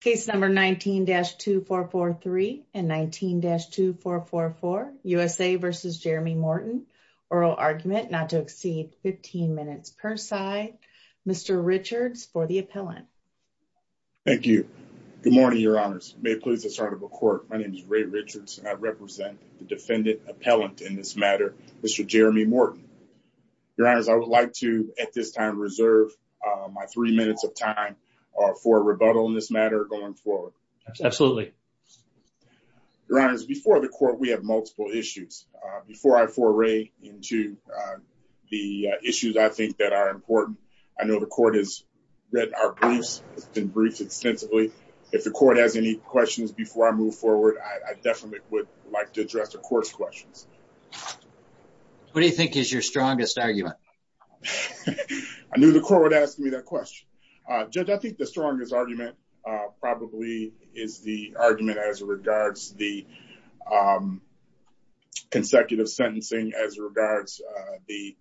case number 19-2443 and 19-2444, USA v. Jeremy Morton, oral argument not to exceed 15 minutes per side. Mr. Richards for the appellant. Thank you. Good morning, your honors. May it please the court. My name is Ray Richards and I represent the defendant appellant in this matter, Mr. Jeremy Morton. Your honors, I would like to at this time reserve my three minutes of time for rebuttal in this matter going forward. Absolutely. Your honors, before the court, we have multiple issues. Before I foray into the issues I think that are important, I know the court has read our briefs, it's been briefed extensively. If the court has any questions before I move forward, I definitely would like to address the court's questions. What do you think is your strongest argument? I knew the court would ask me that question. Judge, I think the strongest argument probably is the argument as regards the consecutive sentencing as regards the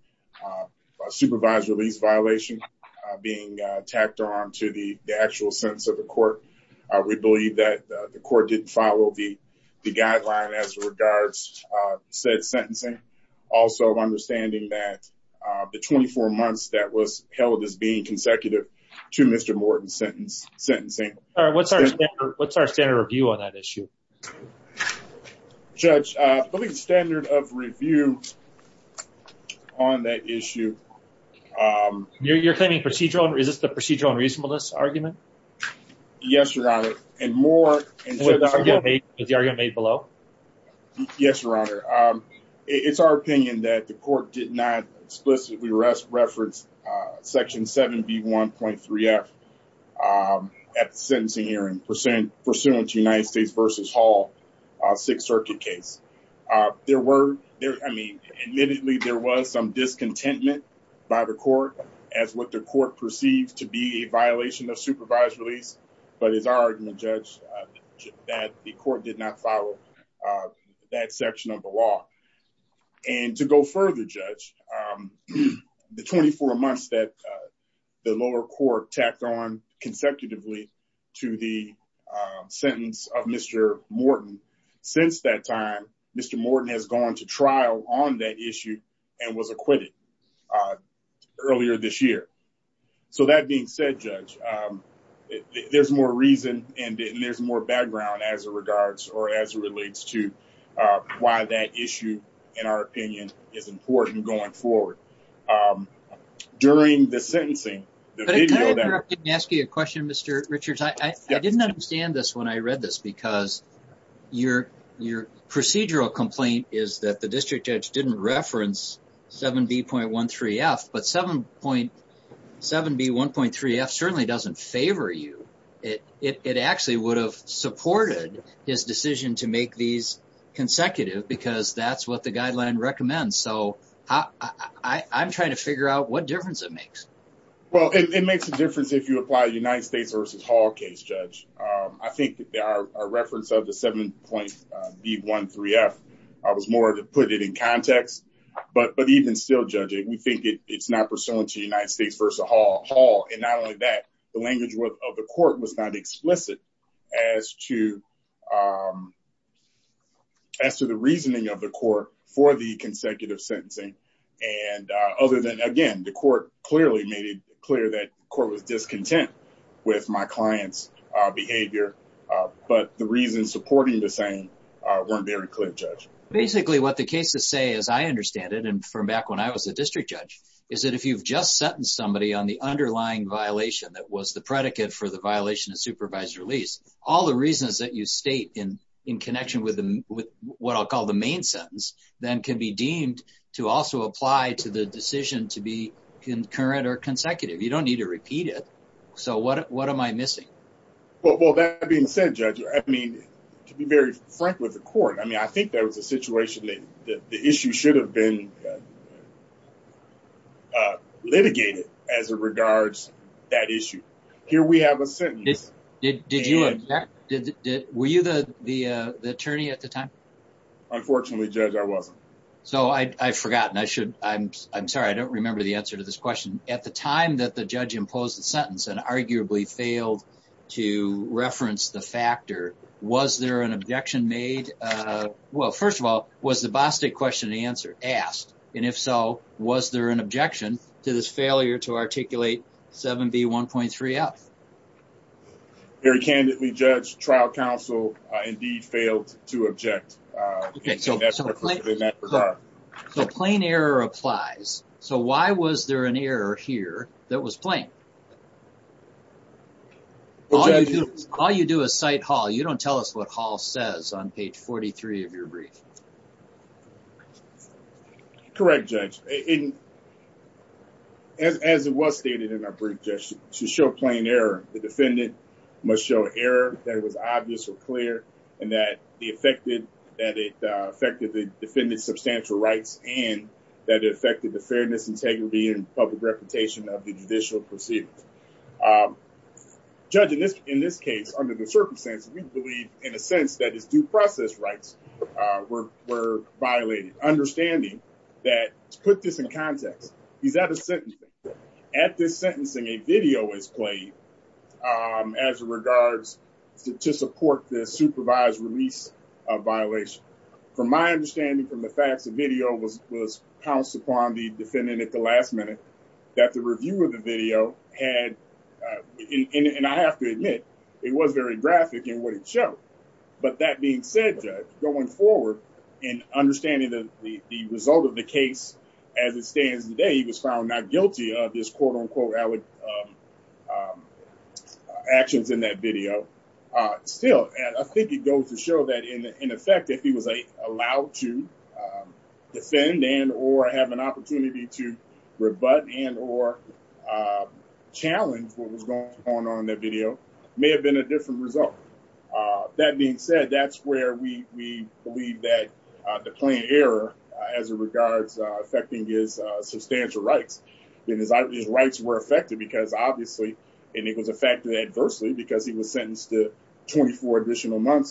supervised release violation being tacked on to the actual sentence of the court. We believe that the court didn't follow the guideline as regards said sentencing. Also, understanding that the 24 months that was held as being consecutive to Mr. Morton's sentencing. What's our standard review on that issue? Judge, I believe the standard of review on that issue... You're claiming procedural, is this the procedural and reasonableness argument? Yes, your honor. And more... Is the argument made below? Yes, your honor. It's our opinion that the court did not explicitly reference section 7B1.3F at the sentencing hearing pursuant to United States versus Hall Sixth Circuit case. There were, I mean, admittedly there was some discontentment by the court as what the court perceived to be a violation of supervised release, but it's our argument, Judge, that the court did not follow that section of the law. And to go further, Judge, the 24 months that the lower court tacked on consecutively to the sentence of Mr. Morton, since that time, Mr. Morton has gone to trial on that issue and was acquitted earlier this year. So that being said, Judge, there's more reason and there's more background as it regards or as it relates to why that issue, in our opinion, is important going forward. During the sentencing... But can I interrupt and ask you a question, Mr. Richards? I didn't understand this when I read this because your procedural complaint is that the district judge didn't reference 7B.13F, but 7B.1.3F certainly doesn't favor you. It actually would have supported his decision to make these consecutive because that's what the guideline recommends. So I'm trying to figure out what difference it makes. Well, it makes a difference if you apply United States versus Hall case, Judge. I think that our reference of the 7.B.1.3F was more to put it in context, but even still, Judge, we think it's not pursuant to United States versus Hall. And not only that, the language of the court was not explicit as to the reasoning of the court for the consecutive behavior. But the reasons supporting the same weren't very clear, Judge. Basically, what the cases say, as I understand it, and from back when I was a district judge, is that if you've just sentenced somebody on the underlying violation that was the predicate for the violation of supervised release, all the reasons that you state in connection with what I'll call the main sentence then can be deemed to also apply to the decision to be concurrent or Well, that being said, Judge, I mean, to be very frank with the court, I mean, I think there was a situation that the issue should have been litigated as it regards that issue. Here we have a sentence. Were you the attorney at the time? Unfortunately, Judge, I wasn't. So I've forgotten. I'm sorry, I don't remember the answer to this question. At the time that Judge imposed the sentence and arguably failed to reference the factor, was there an objection made? Well, first of all, was the BOSTIC question asked? And if so, was there an objection to this failure to articulate 7B1.3F? Very candidly, Judge, trial counsel indeed failed to object in that regard. So plain error applies. So why was there an objection? All you do is cite Hall. You don't tell us what Hall says on page 43 of your brief. Correct, Judge. As it was stated in our brief, Judge, to show plain error, the defendant must show error that was obvious or clear and that it affected the defendant's substantial rights and that it affected the fairness, integrity, and public reputation of the judicial proceedings. Judge, in this case, under the circumstances, we believe in a sense that his due process rights were violated, understanding that, to put this in context, he's at a sentencing. At this sentencing, a video is played as it regards to support the supervised release of violation. From my pounce upon the defendant at the last minute, that the review of the video had, and I have to admit, it was very graphic in what it showed. But that being said, Judge, going forward and understanding the result of the case as it stands today, he was found not guilty of his actions in that video. Still, I think it goes to show that, in effect, if he was allowed to defend and or have an opportunity to rebut and or challenge what was going on in that video, it may have been a different result. That being said, that's where we believe that the plain error as it regards affecting his substantial rights. His rights were affected because, obviously, and it was affected adversely because he was sentenced to First question, I might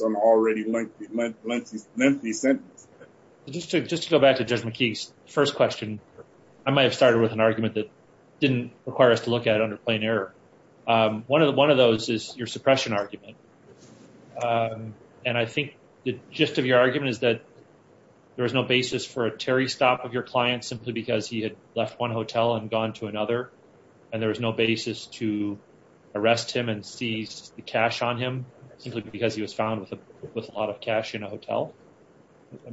have started with an argument that didn't require us to look at it under plain error. One of those is your suppression argument, and I think the gist of your argument is that there was no basis for a Terry stop of your client simply because he had left one hotel and gone to another, and there was no basis to arrest him and seize the cash on him simply because he was found with a lot of cash in a hotel.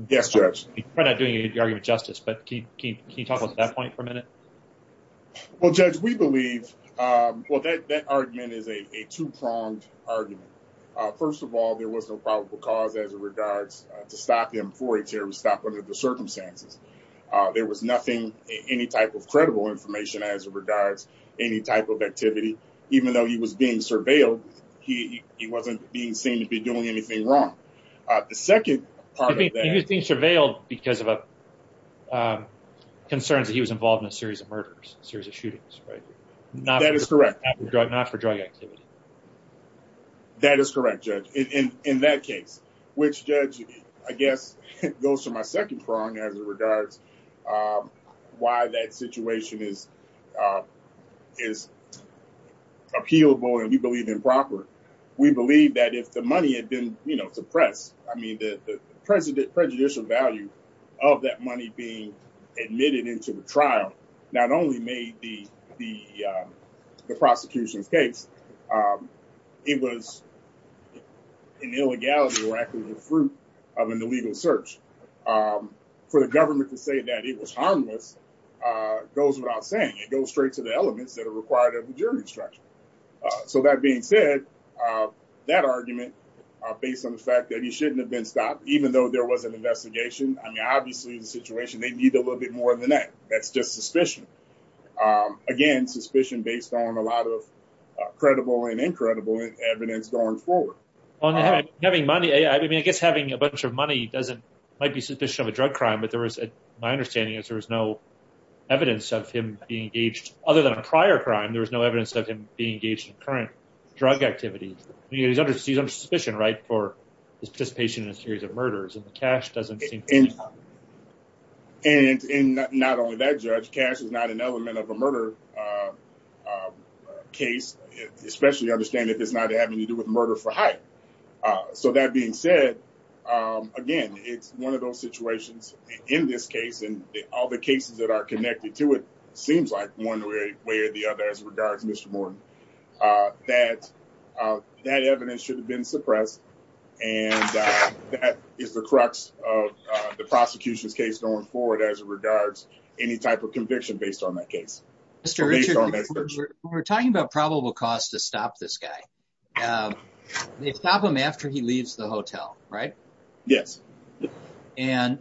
Yes, Judge. We're not doing any argument justice, but can you talk about that point for a minute? Well, Judge, we believe, well, that argument is a two-pronged argument. First of all, there was no probable cause as it regards to stop him for a Terry stop under the circumstances. There was nothing, any type of credible information as it regards any type of activity. Even though he was being surveilled, he wasn't being seen to be doing anything wrong. The second part of that- He was being surveilled because of concerns that he was involved in a series of murders, series of shootings, right? That is correct. Not for drug activity. That is correct, Judge, in that case, which Judge, I guess, goes to my second prong as it regards why that situation is appealable and we believe improper. We believe that if the money had been, you know, suppressed, I mean, the prejudicial value of that money being admitted into the trial not only made the prosecution's case, it was an illegality or actually the fruit of an illegal search. For the government to say that it was harmless goes without saying. It goes straight to the elements that are required of the jury structure. So that being said, that argument based on the fact that he shouldn't have been stopped, even though there was an investigation, I mean, obviously the situation, they need a little bit more than that. That's just suspicion. Again, suspicion based on a lot of credible and incredible evidence going forward. Having money, I mean, I guess having a bunch of money doesn't- might be suspicion of a drug crime, but there was, my understanding is there was no evidence of him being engaged. Other than a prior crime, there was no evidence of him being engaged in current drug activities. He's under suspicion, right, for his participation in a series of murders and the cash doesn't seem- And not only that, Judge, cash is not an element of a murder case, especially understanding that it's not having to do with murder for hype. So that being said, again, it's one of those situations in this case and all the cases that are connected to it seems like one way or the other as regards Mr. Morton. That evidence should have been suppressed and that is the crux of the prosecution's case going forward as regards any type of conviction based on that case. When we're talking about probable cause to stop this guy, they stop him after he leaves the hotel, right? Yes. And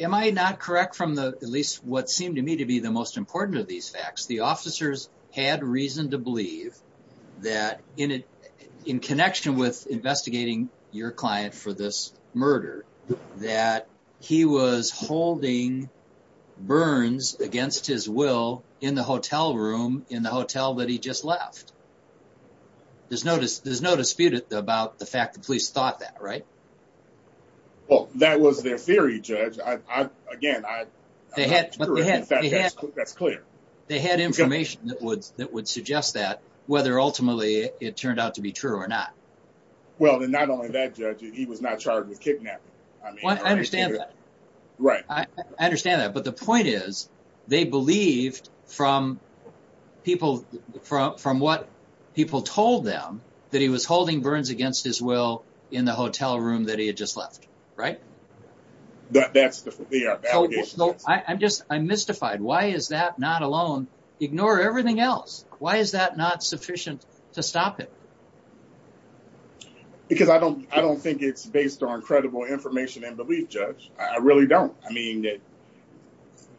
am I not correct from the, at least what seemed to me to be the most important of these facts, the officers had reason to believe that in connection with investigating your client for this murder, that he was holding burns against his will in the hotel room in the hotel that he just left. There's no dispute about the fact that police thought that, right? Well, that was their that's clear. They had information that would, that would suggest that whether ultimately it turned out to be true or not. Well, then not only that judge, he was not charged with kidnapping. I mean, I understand that. Right. I understand that. But the point is they believed from people from, from what people told them that he was holding burns against his will in the hotel is that not alone? Ignore everything else. Why is that not sufficient to stop it? Because I don't, I don't think it's based on credible information and belief judge. I really don't. I mean that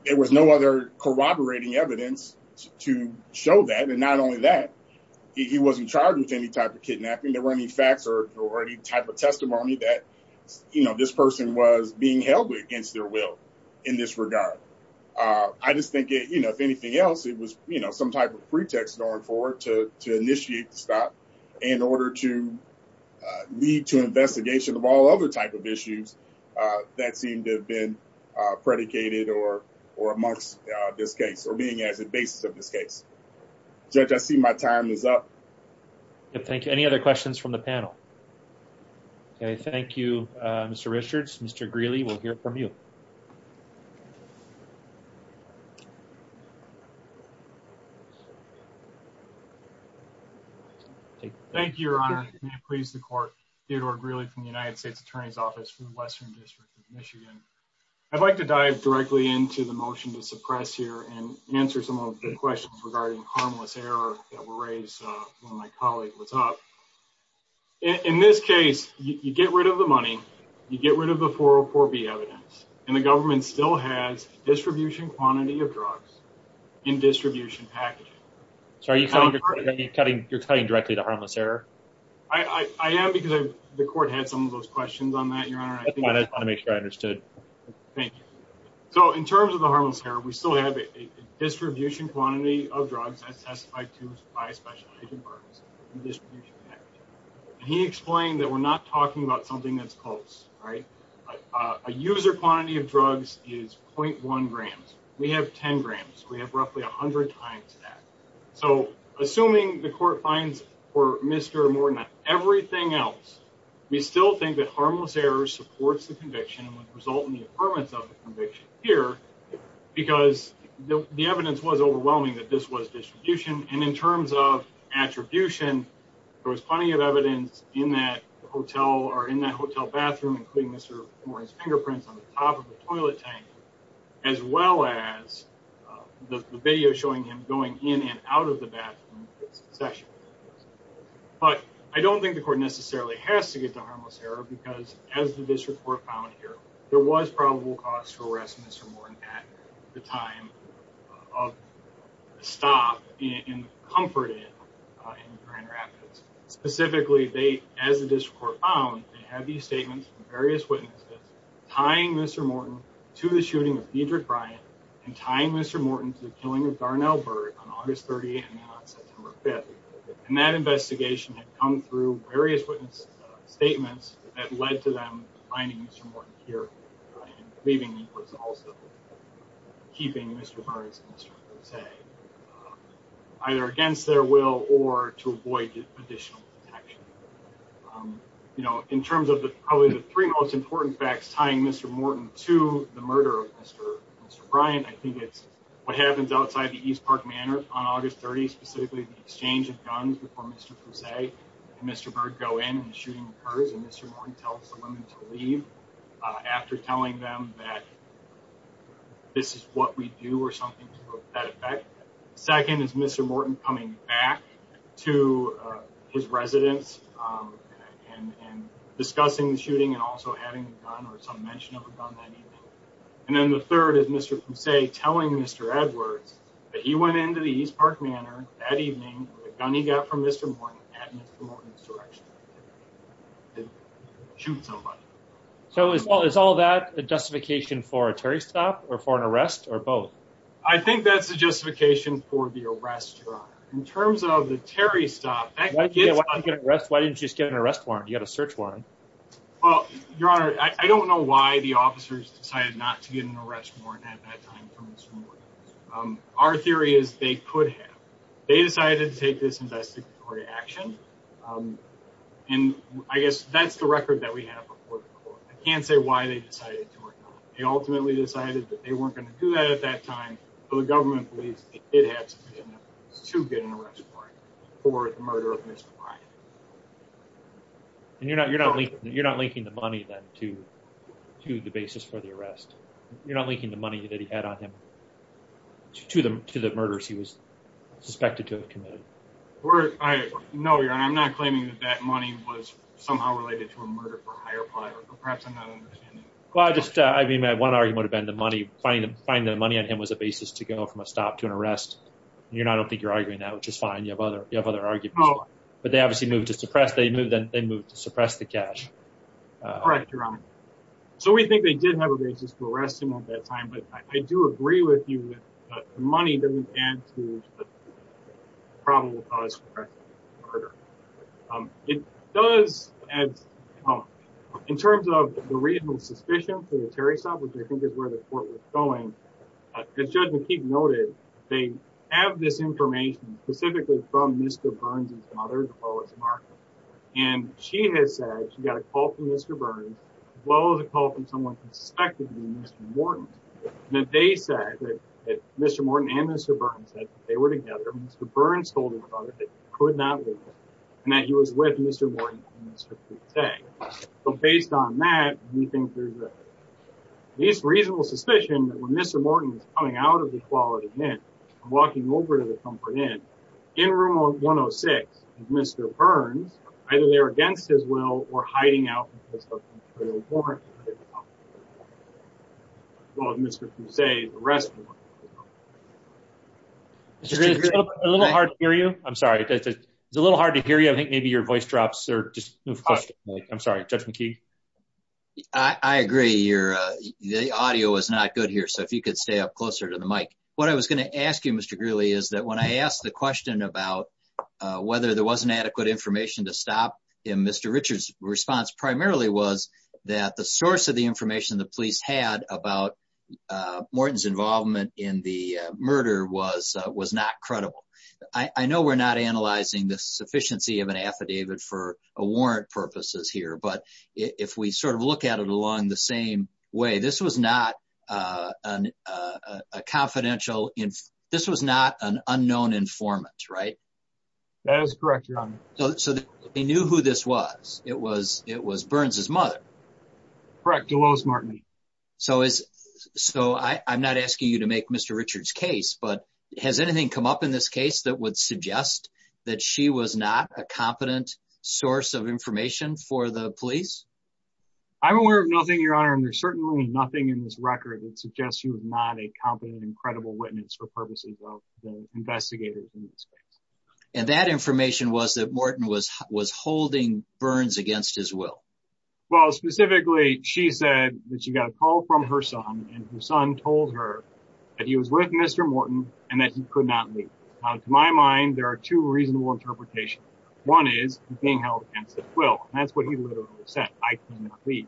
there was no other corroborating evidence to show that. And not only that he wasn't charged with any type of kidnapping. There weren't any facts or, or any type of testimony that, you know, this person was being held against their will in this regard. I just think, you know, if anything else, it was, you know, some type of pretext going forward to, to initiate the stop in order to lead to investigation of all other type of issues that seemed to have been predicated or, or amongst this case or being as a basis of this case. Judge, I see my time is up. Thank you. Any other questions from the panel? Okay. Thank you, Mr. Richards. Mr. Greeley, we'll hear from you. Thank you, Your Honor. May it please the court. Theodore Greeley from the United States Attorney's Office for the Western District of Michigan. I'd like to dive directly into the motion to suppress here and answer some of the questions regarding harmless error that were raised when my colleague was up. In this case, you get rid of the money, you get rid of the 404B evidence, and the government still has distribution quantity of drugs in distribution packaging. You're cutting directly to harmless error? I am because the court had some of those questions on that, Your Honor. I just want to make sure I understood. Thank you. So in terms of the harmless error, we still have a distribution quantity of drugs by a specialized environment in distribution packaging. He explained that we're not talking about something that's close, right? A user quantity of drugs is 0.1 grams. We have 10 grams. We have roughly 100 times that. So assuming the court finds for Mr. Morton and everything else, we still think that harmless error supports the conviction and would result in the affirmance of distribution. And in terms of attribution, there was plenty of evidence in that hotel bathroom, including Mr. Morton's fingerprints on the top of the toilet tank, as well as the video showing him going in and out of the bathroom. But I don't think the court necessarily has to get to harmless error because as the district court found here, there was probable cause to arrest Mr. Morton at the time of the stop in Comfort Inn in Grand Rapids. Specifically, as the district court found, they have these statements from various witnesses tying Mr. Morton to the shooting of Diedrich Bryant and tying Mr. Morton to the killing of Darnell Burke on August 30 and now on September 5th. And that investigation had come through various witness statements that led to them finding Mr. Morton was also keeping Mr. Burns and Mr. Fousey either against their will or to avoid additional protection. You know, in terms of probably the three most important facts tying Mr. Morton to the murder of Mr. Bryant, I think it's what happens outside the East Park Manor on August 30, specifically the exchange of guns before Mr. Fousey and Mr. Burke go in and the shooting occurs and Mr. Morton tells the women to leave after telling them that this is what we do or something to that effect. Second is Mr. Morton coming back to his residence and discussing the shooting and also having a gun or some mention of a gun that evening. And then the third is Mr. Fousey telling Mr. Edwards that he went into the East Park Manor that evening with a gun he got from Mr. Morton at Mr. Morton's direction. So is all that the justification for a Terry stop or for an arrest or both? I think that's the justification for the arrest, Your Honor. In terms of the Terry stop, why didn't you just get an arrest warrant? You got a search warrant. Well, Your Honor, I don't know why the officers decided not to get an arrest warrant at that time. Our theory is they could have. They decided to take this investigatory action and I guess that's the record that we have before the court. I can't say why they decided to or not. They ultimately decided that they weren't going to do that at that time, but the government believes they did have sufficient evidence to get an arrest warrant for the murder of Mr. Bryant. And you're not you're not linking the money then to to the basis for the arrest. You're not linking the money that he had on him to the to the murders he was suspected to have committed. I know, Your Honor, I'm not claiming that that money was somehow related to a murder for hire ply or perhaps I'm not understanding. Well, I just I mean that one argument would have been the money finding the money on him was a basis to go from a stop to an arrest. You're not I don't think you're arguing that, which is fine. You have other you have other arguments, but they obviously moved to suppress. They moved to suppress the cash. Correct, Your Honor. So we think they did have a basis for arresting at that time, but I do agree with you that the money doesn't add to the probable cause for murder. It does add in terms of the reasonable suspicion for the Terry stop, which I think is where the court was going. As Judge McKee noted, they have this information specifically from Mr. Burns' daughter, as well as Martha. And she has said she got a call from Mr. Morton that they said that Mr. Morton and Mr. Burns said that they were together. Mr. Burns told her about it, that he could not leave her and that he was with Mr. Morton. So based on that, we think there's a reasonable suspicion that when Mr. Morton was coming out of the quality mint and walking over to the Comfort Inn in room 106, Mr. Burns, either they were against his will or they were hiding out. Well, as Mr. Fusay said, the rest of them weren't. It's a little hard to hear you. I'm sorry. It's a little hard to hear you. I think maybe your voice drops. I'm sorry, Judge McKee. I agree. The audio is not good here, so if you could stay up closer to the mic. What I was going to ask you, Mr. Greeley, is that when I asked the question about whether there wasn't adequate information to stop him, Mr. Richards' response primarily was that the source of the information the police had about Morton's involvement in the murder was not credible. I know we're not analyzing the sufficiency of an affidavit for warrant purposes here, but if we sort of look at it along the same way, this was not an unknown informant, right? That is correct, Your Honor. So they knew who this was. It was Burns' mother. Correct. It was Martin. So I'm not asking you to make Mr. Richards' case, but has anything come up in this case that would suggest that she was not a competent source of information for the police? I'm aware of nothing, Your Honor, and there's certainly nothing in this record that suggests she was not a competent and credible witness for purposes of the investigators in this case. And that information was that Morton was holding Burns against his will. Well, specifically, she said that she got a call from her son, and her son told her that he was with Mr. Morton and that he could not leave. Now, to my mind, there are two reasonable interpretations. One is he's being held against his will. That's what he literally said, I cannot leave.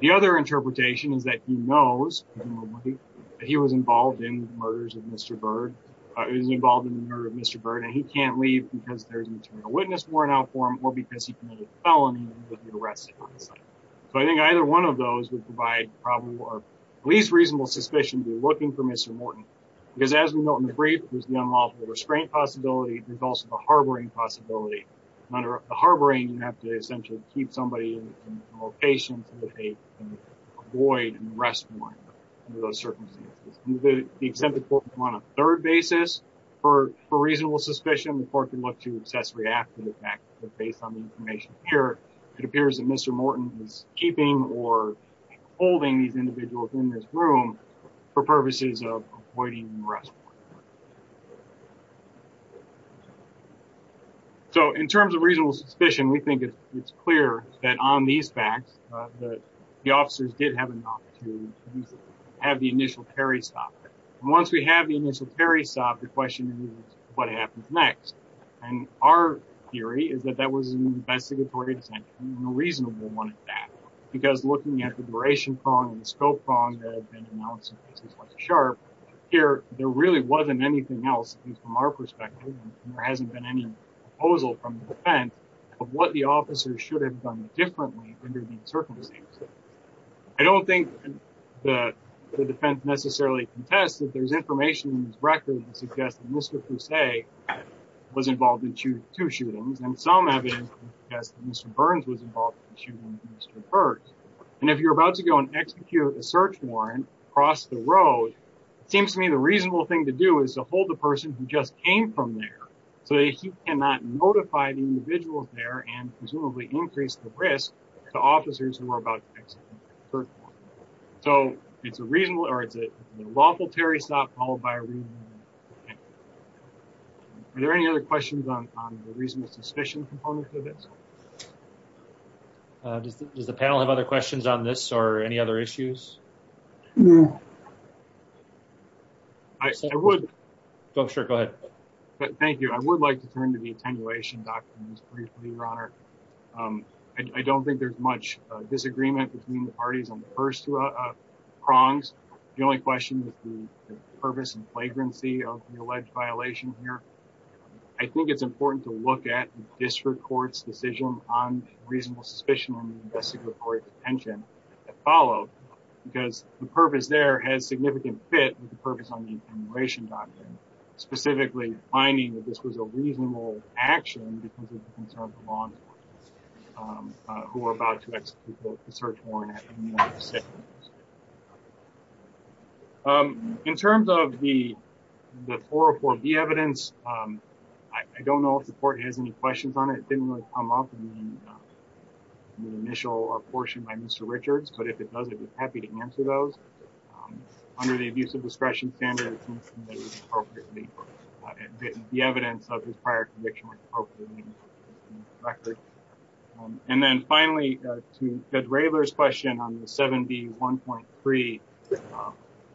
The other interpretation is that he knows that he was involved in the murders of Mr. Burns, was involved in the murder of Mr. Burns, and he can't leave because there's a material witness worn out for him or because he committed a felony with the arresting on site. So I think either one of those would provide probably our least reasonable suspicion to be looking for Mr. Morton, because as we note in the brief, there's the unlawful restraint possibility. There's also the harboring possibility. Under the harboring, you have to essentially keep somebody in a location so that they can avoid an arrest warrant under those for reasonable suspicion. The court can look to accessory after the fact, but based on the information here, it appears that Mr. Morton is keeping or holding these individuals in this room for purposes of avoiding an arrest warrant. So in terms of reasonable suspicion, we think it's clear that on these facts that the officers did not have the opportunity to have the initial carry stopped. Once we have the initial carry stopped, the question is what happens next? And our theory is that that was an investigatory decision, a reasonable one at that, because looking at the duration prong and the scope prong that have been announced in cases like the Sharp, here, there really wasn't anything else, at least from our perspective, and there hasn't been any proposal from the defense of what the officers should have done differently under these circumstances. I don't think the defense necessarily contests that there's information in these records that suggests that Mr. Fusay was involved in two shootings, and some evidence suggests that Mr. Burns was involved in the shooting of Mr. Burns. And if you're about to go and execute a search warrant across the road, it seems to me the reasonable thing to do is to hold the person who just came from there so that he cannot notify the individuals there and presumably increase the officers who are about to execute the search warrant. So it's a reasonable or it's a lawful carry stop followed by a reasonable carry stop. Are there any other questions on the reasonable suspicion component to this? Does the panel have other questions on this or any other issues? I would. Go ahead. Thank you. I would like to turn to the attenuation documents briefly, Your Honor. I don't think there's much disagreement between the parties on the first prongs. The only question is the purpose and flagrancy of the alleged violation here. I think it's important to look at the district court's decision on reasonable suspicion and investigatory detention that followed because the purpose there has significant fit with the purpose on the attenuation document, specifically finding that this was a reasonable action because of the law enforcement who were about to execute the search warrant. In terms of the 404B evidence, I don't know if the court has any questions on it. It didn't really come up in the initial portion by Mr. Richards, but if it does, I'd be happy to answer those. Under the abuse of discretion standard, it seems to me that the evidence of his prior conviction was appropriate. Finally, to Judge Raylor's question on the 7B1.3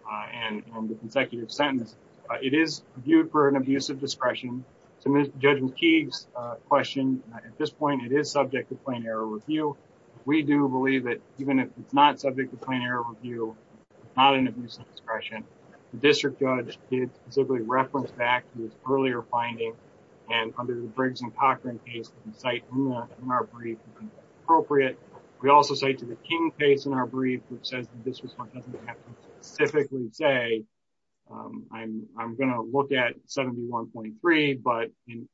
and the consecutive sentence, it is viewed for an abuse of discretion. To Judge McKeague's question, at this point, it is subject to plain error review. We do believe that even if it's not subject to plain error review, it's not an abuse of discretion. The district judge did specifically reference back to his earlier finding, and under the Briggs and Cochran case, we cite in our brief that it's appropriate. We also cite to the King case in our brief, which says the district court doesn't have to specifically say, I'm going to look at 7B1.3, but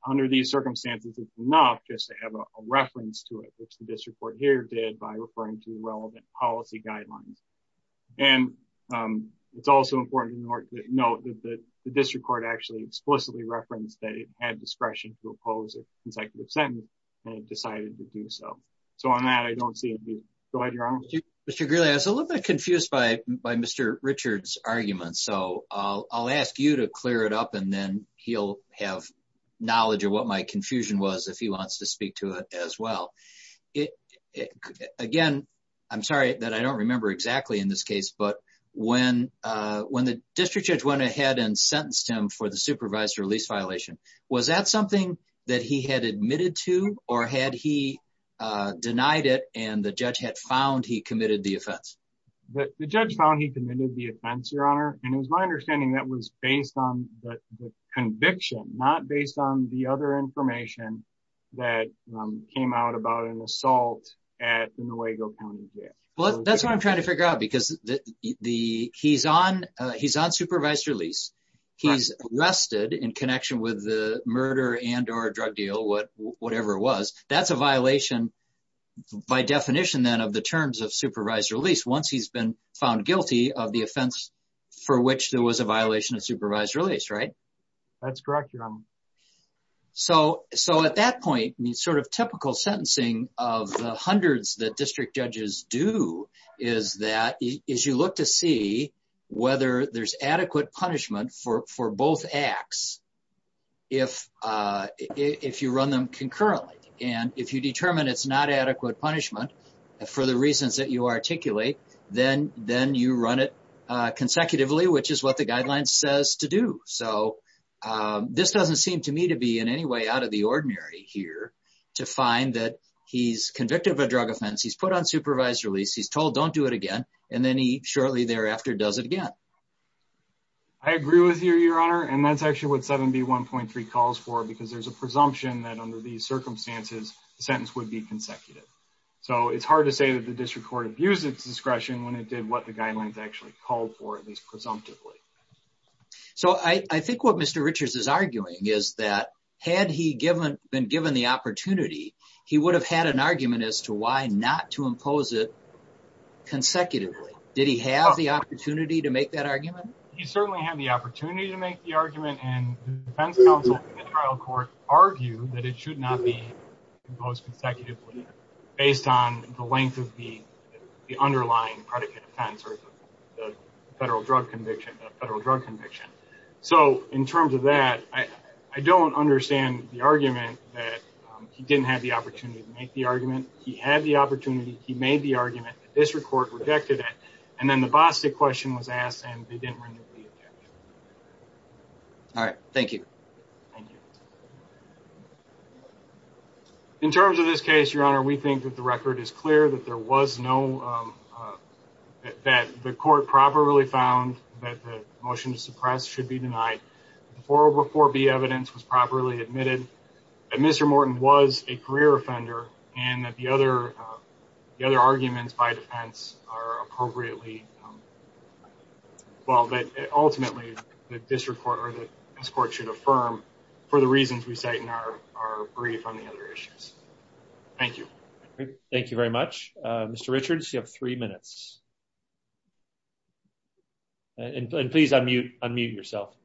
under these circumstances, it's enough just to have a reference to it, which the district court here did by referring to reference that it had discretion to oppose a consecutive sentence, and it decided to do so. So on that, I don't see an abuse. Go ahead, Your Honor. Mr. Greeley, I was a little bit confused by Mr. Richards' argument, so I'll ask you to clear it up, and then he'll have knowledge of what my confusion was if he wants to speak to it as well. Again, I'm sorry that I don't remember exactly in this case, but when the district judge went for the supervised release violation, was that something that he had admitted to, or had he denied it and the judge had found he committed the offense? The judge found he committed the offense, Your Honor, and it was my understanding that was based on the conviction, not based on the other information that came out about an assault at the Nuevo County Jail. Well, that's what I'm trying to figure out, because he's on supervised release. He's arrested in connection with the murder and or drug deal, whatever it was. That's a violation by definition then of the terms of supervised release once he's been found guilty of the offense for which there was a violation of supervised release, right? That's correct, Your Honor. So at that point, the sort of typical sentencing of the hundreds that district judges do is that you look to see whether there's adequate punishment for both acts if you run them concurrently. And if you determine it's not adequate punishment for the reasons that you articulate, then you run it consecutively, which is what the guideline says to do. So this doesn't seem to me to be in any way out of the ordinary here to find that he's convicted of a drug offense, he's put on supervised release, he's told don't do it again, and then he shortly thereafter does it again. I agree with you, Your Honor, and that's actually what 7B.1.3 calls for, because there's a presumption that under these circumstances, the sentence would be consecutive. So it's hard to say that the district court abused its discretion when it did what the guidelines actually called for, at least presumptively. So I think what Mr. Richards is arguing is that had he been given the opportunity, he would have had an argument as to why not to impose it consecutively. Did he have the opportunity to make that argument? He certainly had the opportunity to make the argument, and the defense counsel in the trial court argued that it should not be imposed consecutively based on the length of the underlying predicate offense or the federal drug conviction. So in terms of that, I don't understand the argument that he didn't have the opportunity to make the argument. He had the opportunity, he made the argument, the district court rejected it, and then the Bostick question was asked and they didn't render the objection. All right, thank you. In terms of this case, Your Honor, we think that the record is clear that there was no, uh, that the court properly found that the motion to suppress should be denied. The 404B evidence was properly admitted that Mr. Morton was a career offender and that the other, the other arguments by defense are appropriately, well, that ultimately the district court or the district court should affirm for the reasons we say in our brief on the other issues. Thank you. Thank you very much. Uh, Mr. Richards, you have three minutes. And please unmute, unmute yourself.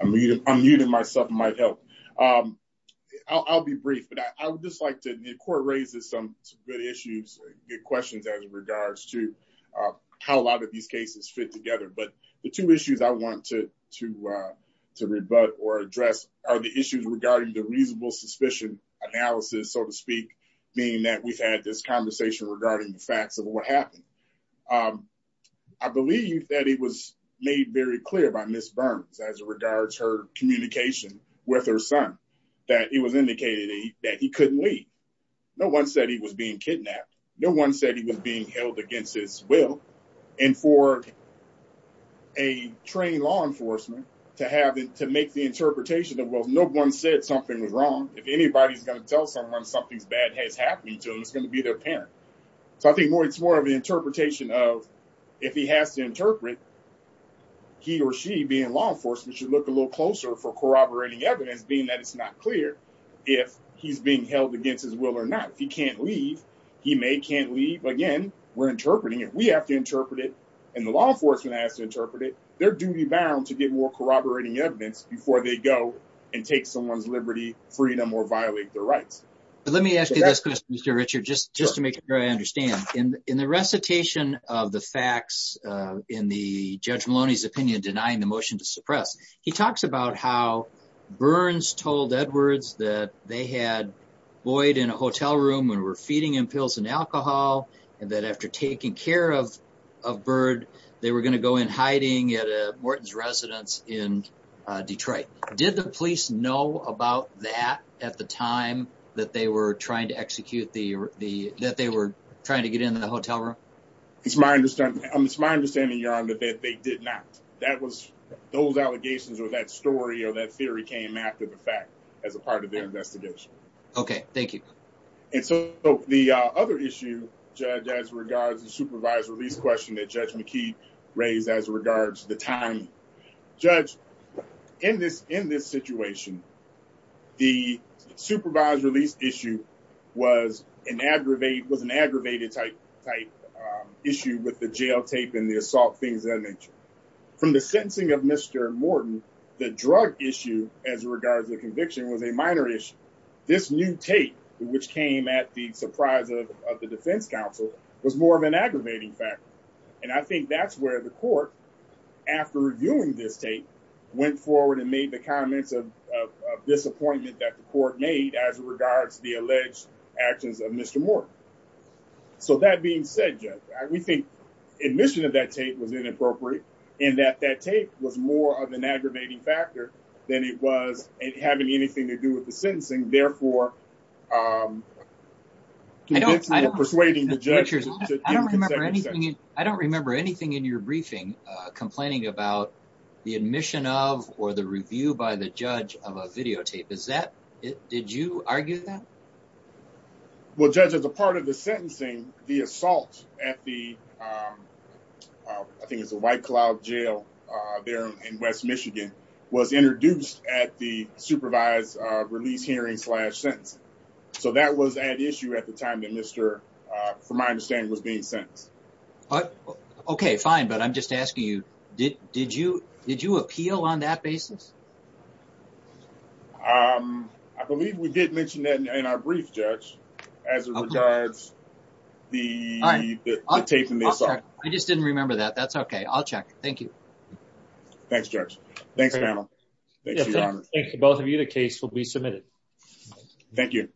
I'm muting myself, it might help. Um, I'll, I'll be brief, but I would just like to, the court raises some good issues, good questions as regards to, uh, how a lot of these cases fit together. But the two issues I want to, to, uh, to rebut or address are the regarding the reasonable suspicion analysis, so to speak, meaning that we've had this conversation regarding the facts of what happened. Um, I believe that it was made very clear by Ms. Burns as it regards her communication with her son, that it was indicated that he couldn't leave. No one said he was being kidnapped. No one said he was being held against his will and for a trained law enforcement to have to make the interpretation of, well, no one said something was wrong. If anybody's going to tell someone something's bad has happened to them, it's going to be their parent. So I think more, it's more of an interpretation of if he has to interpret he or she being law enforcement should look a little closer for corroborating evidence, being that it's not clear if he's being held against his will or not. If he can't leave, he may can't leave. Again, we're interpreting it. We have to interpret it and the law enforcement has to interpret it. They're duty bound to get more corroborating evidence before they go and take someone's liberty, freedom, or violate their rights. But let me ask you this question, Mr. Richard, just, just to make sure I understand in, in the recitation of the facts, uh, in the judge Maloney's opinion, denying the motion to suppress, he talks about how Burns told Edwards that they had Boyd in a hotel room when we're feeding him pills and alcohol. And that after taking care of, of Byrd, they were going to go in hiding at a Morton's residence in Detroit. Did the police know about that at the time that they were trying to execute the, the, that they were trying to get into the hotel room? It's my understanding. It's my understanding, Your Honor, that they did not, that was those allegations or that story or that theory came after the fact as a part of their investigation. Okay. Thank you. And so the other issue judge as regards to supervise release question that judge McKee raised as regards to the time judge in this, in this situation, the supervised release issue was an aggravate was an aggravated type type issue with the jail tape and the assault things that nature from the sentencing of Mr. Morton, the drug issue as regards to the conviction was a minor issue. This new tape, which came at the surprise of, of the defense council was more of an aggravating factor. And I think that's where the court after reviewing this tape went forward and made the comments of, of, of disappointment that the court made as regards to the alleged actions of Mr. Morton. So that being said, judge, we think admission of that tape was inappropriate in that that tape was more of an aggravating factor than it was having anything to do with the sentencing. Therefore, I don't, I don't persuading the judges. I don't remember anything. I don't remember anything in your briefing complaining about the admission of, or the review by the judge of a videotape. Is that it? Did you argue that? Well, judge, as a part of the sentencing, the assault at the I think it's a white cloud jail there in West Michigan was introduced at the supervised release hearing slash sentencing. So that was at issue at the time that Mr. from my understanding was being sentenced. Okay, fine. But I'm just asking you, did, did you, did you appeal on that basis? I believe we did mention that in our brief judge as regards the tape. I just didn't remember that. That's okay. I'll check. Thank you. Thanks, judge. Thanks panel. Both of you. The case will be submitted. Thank you.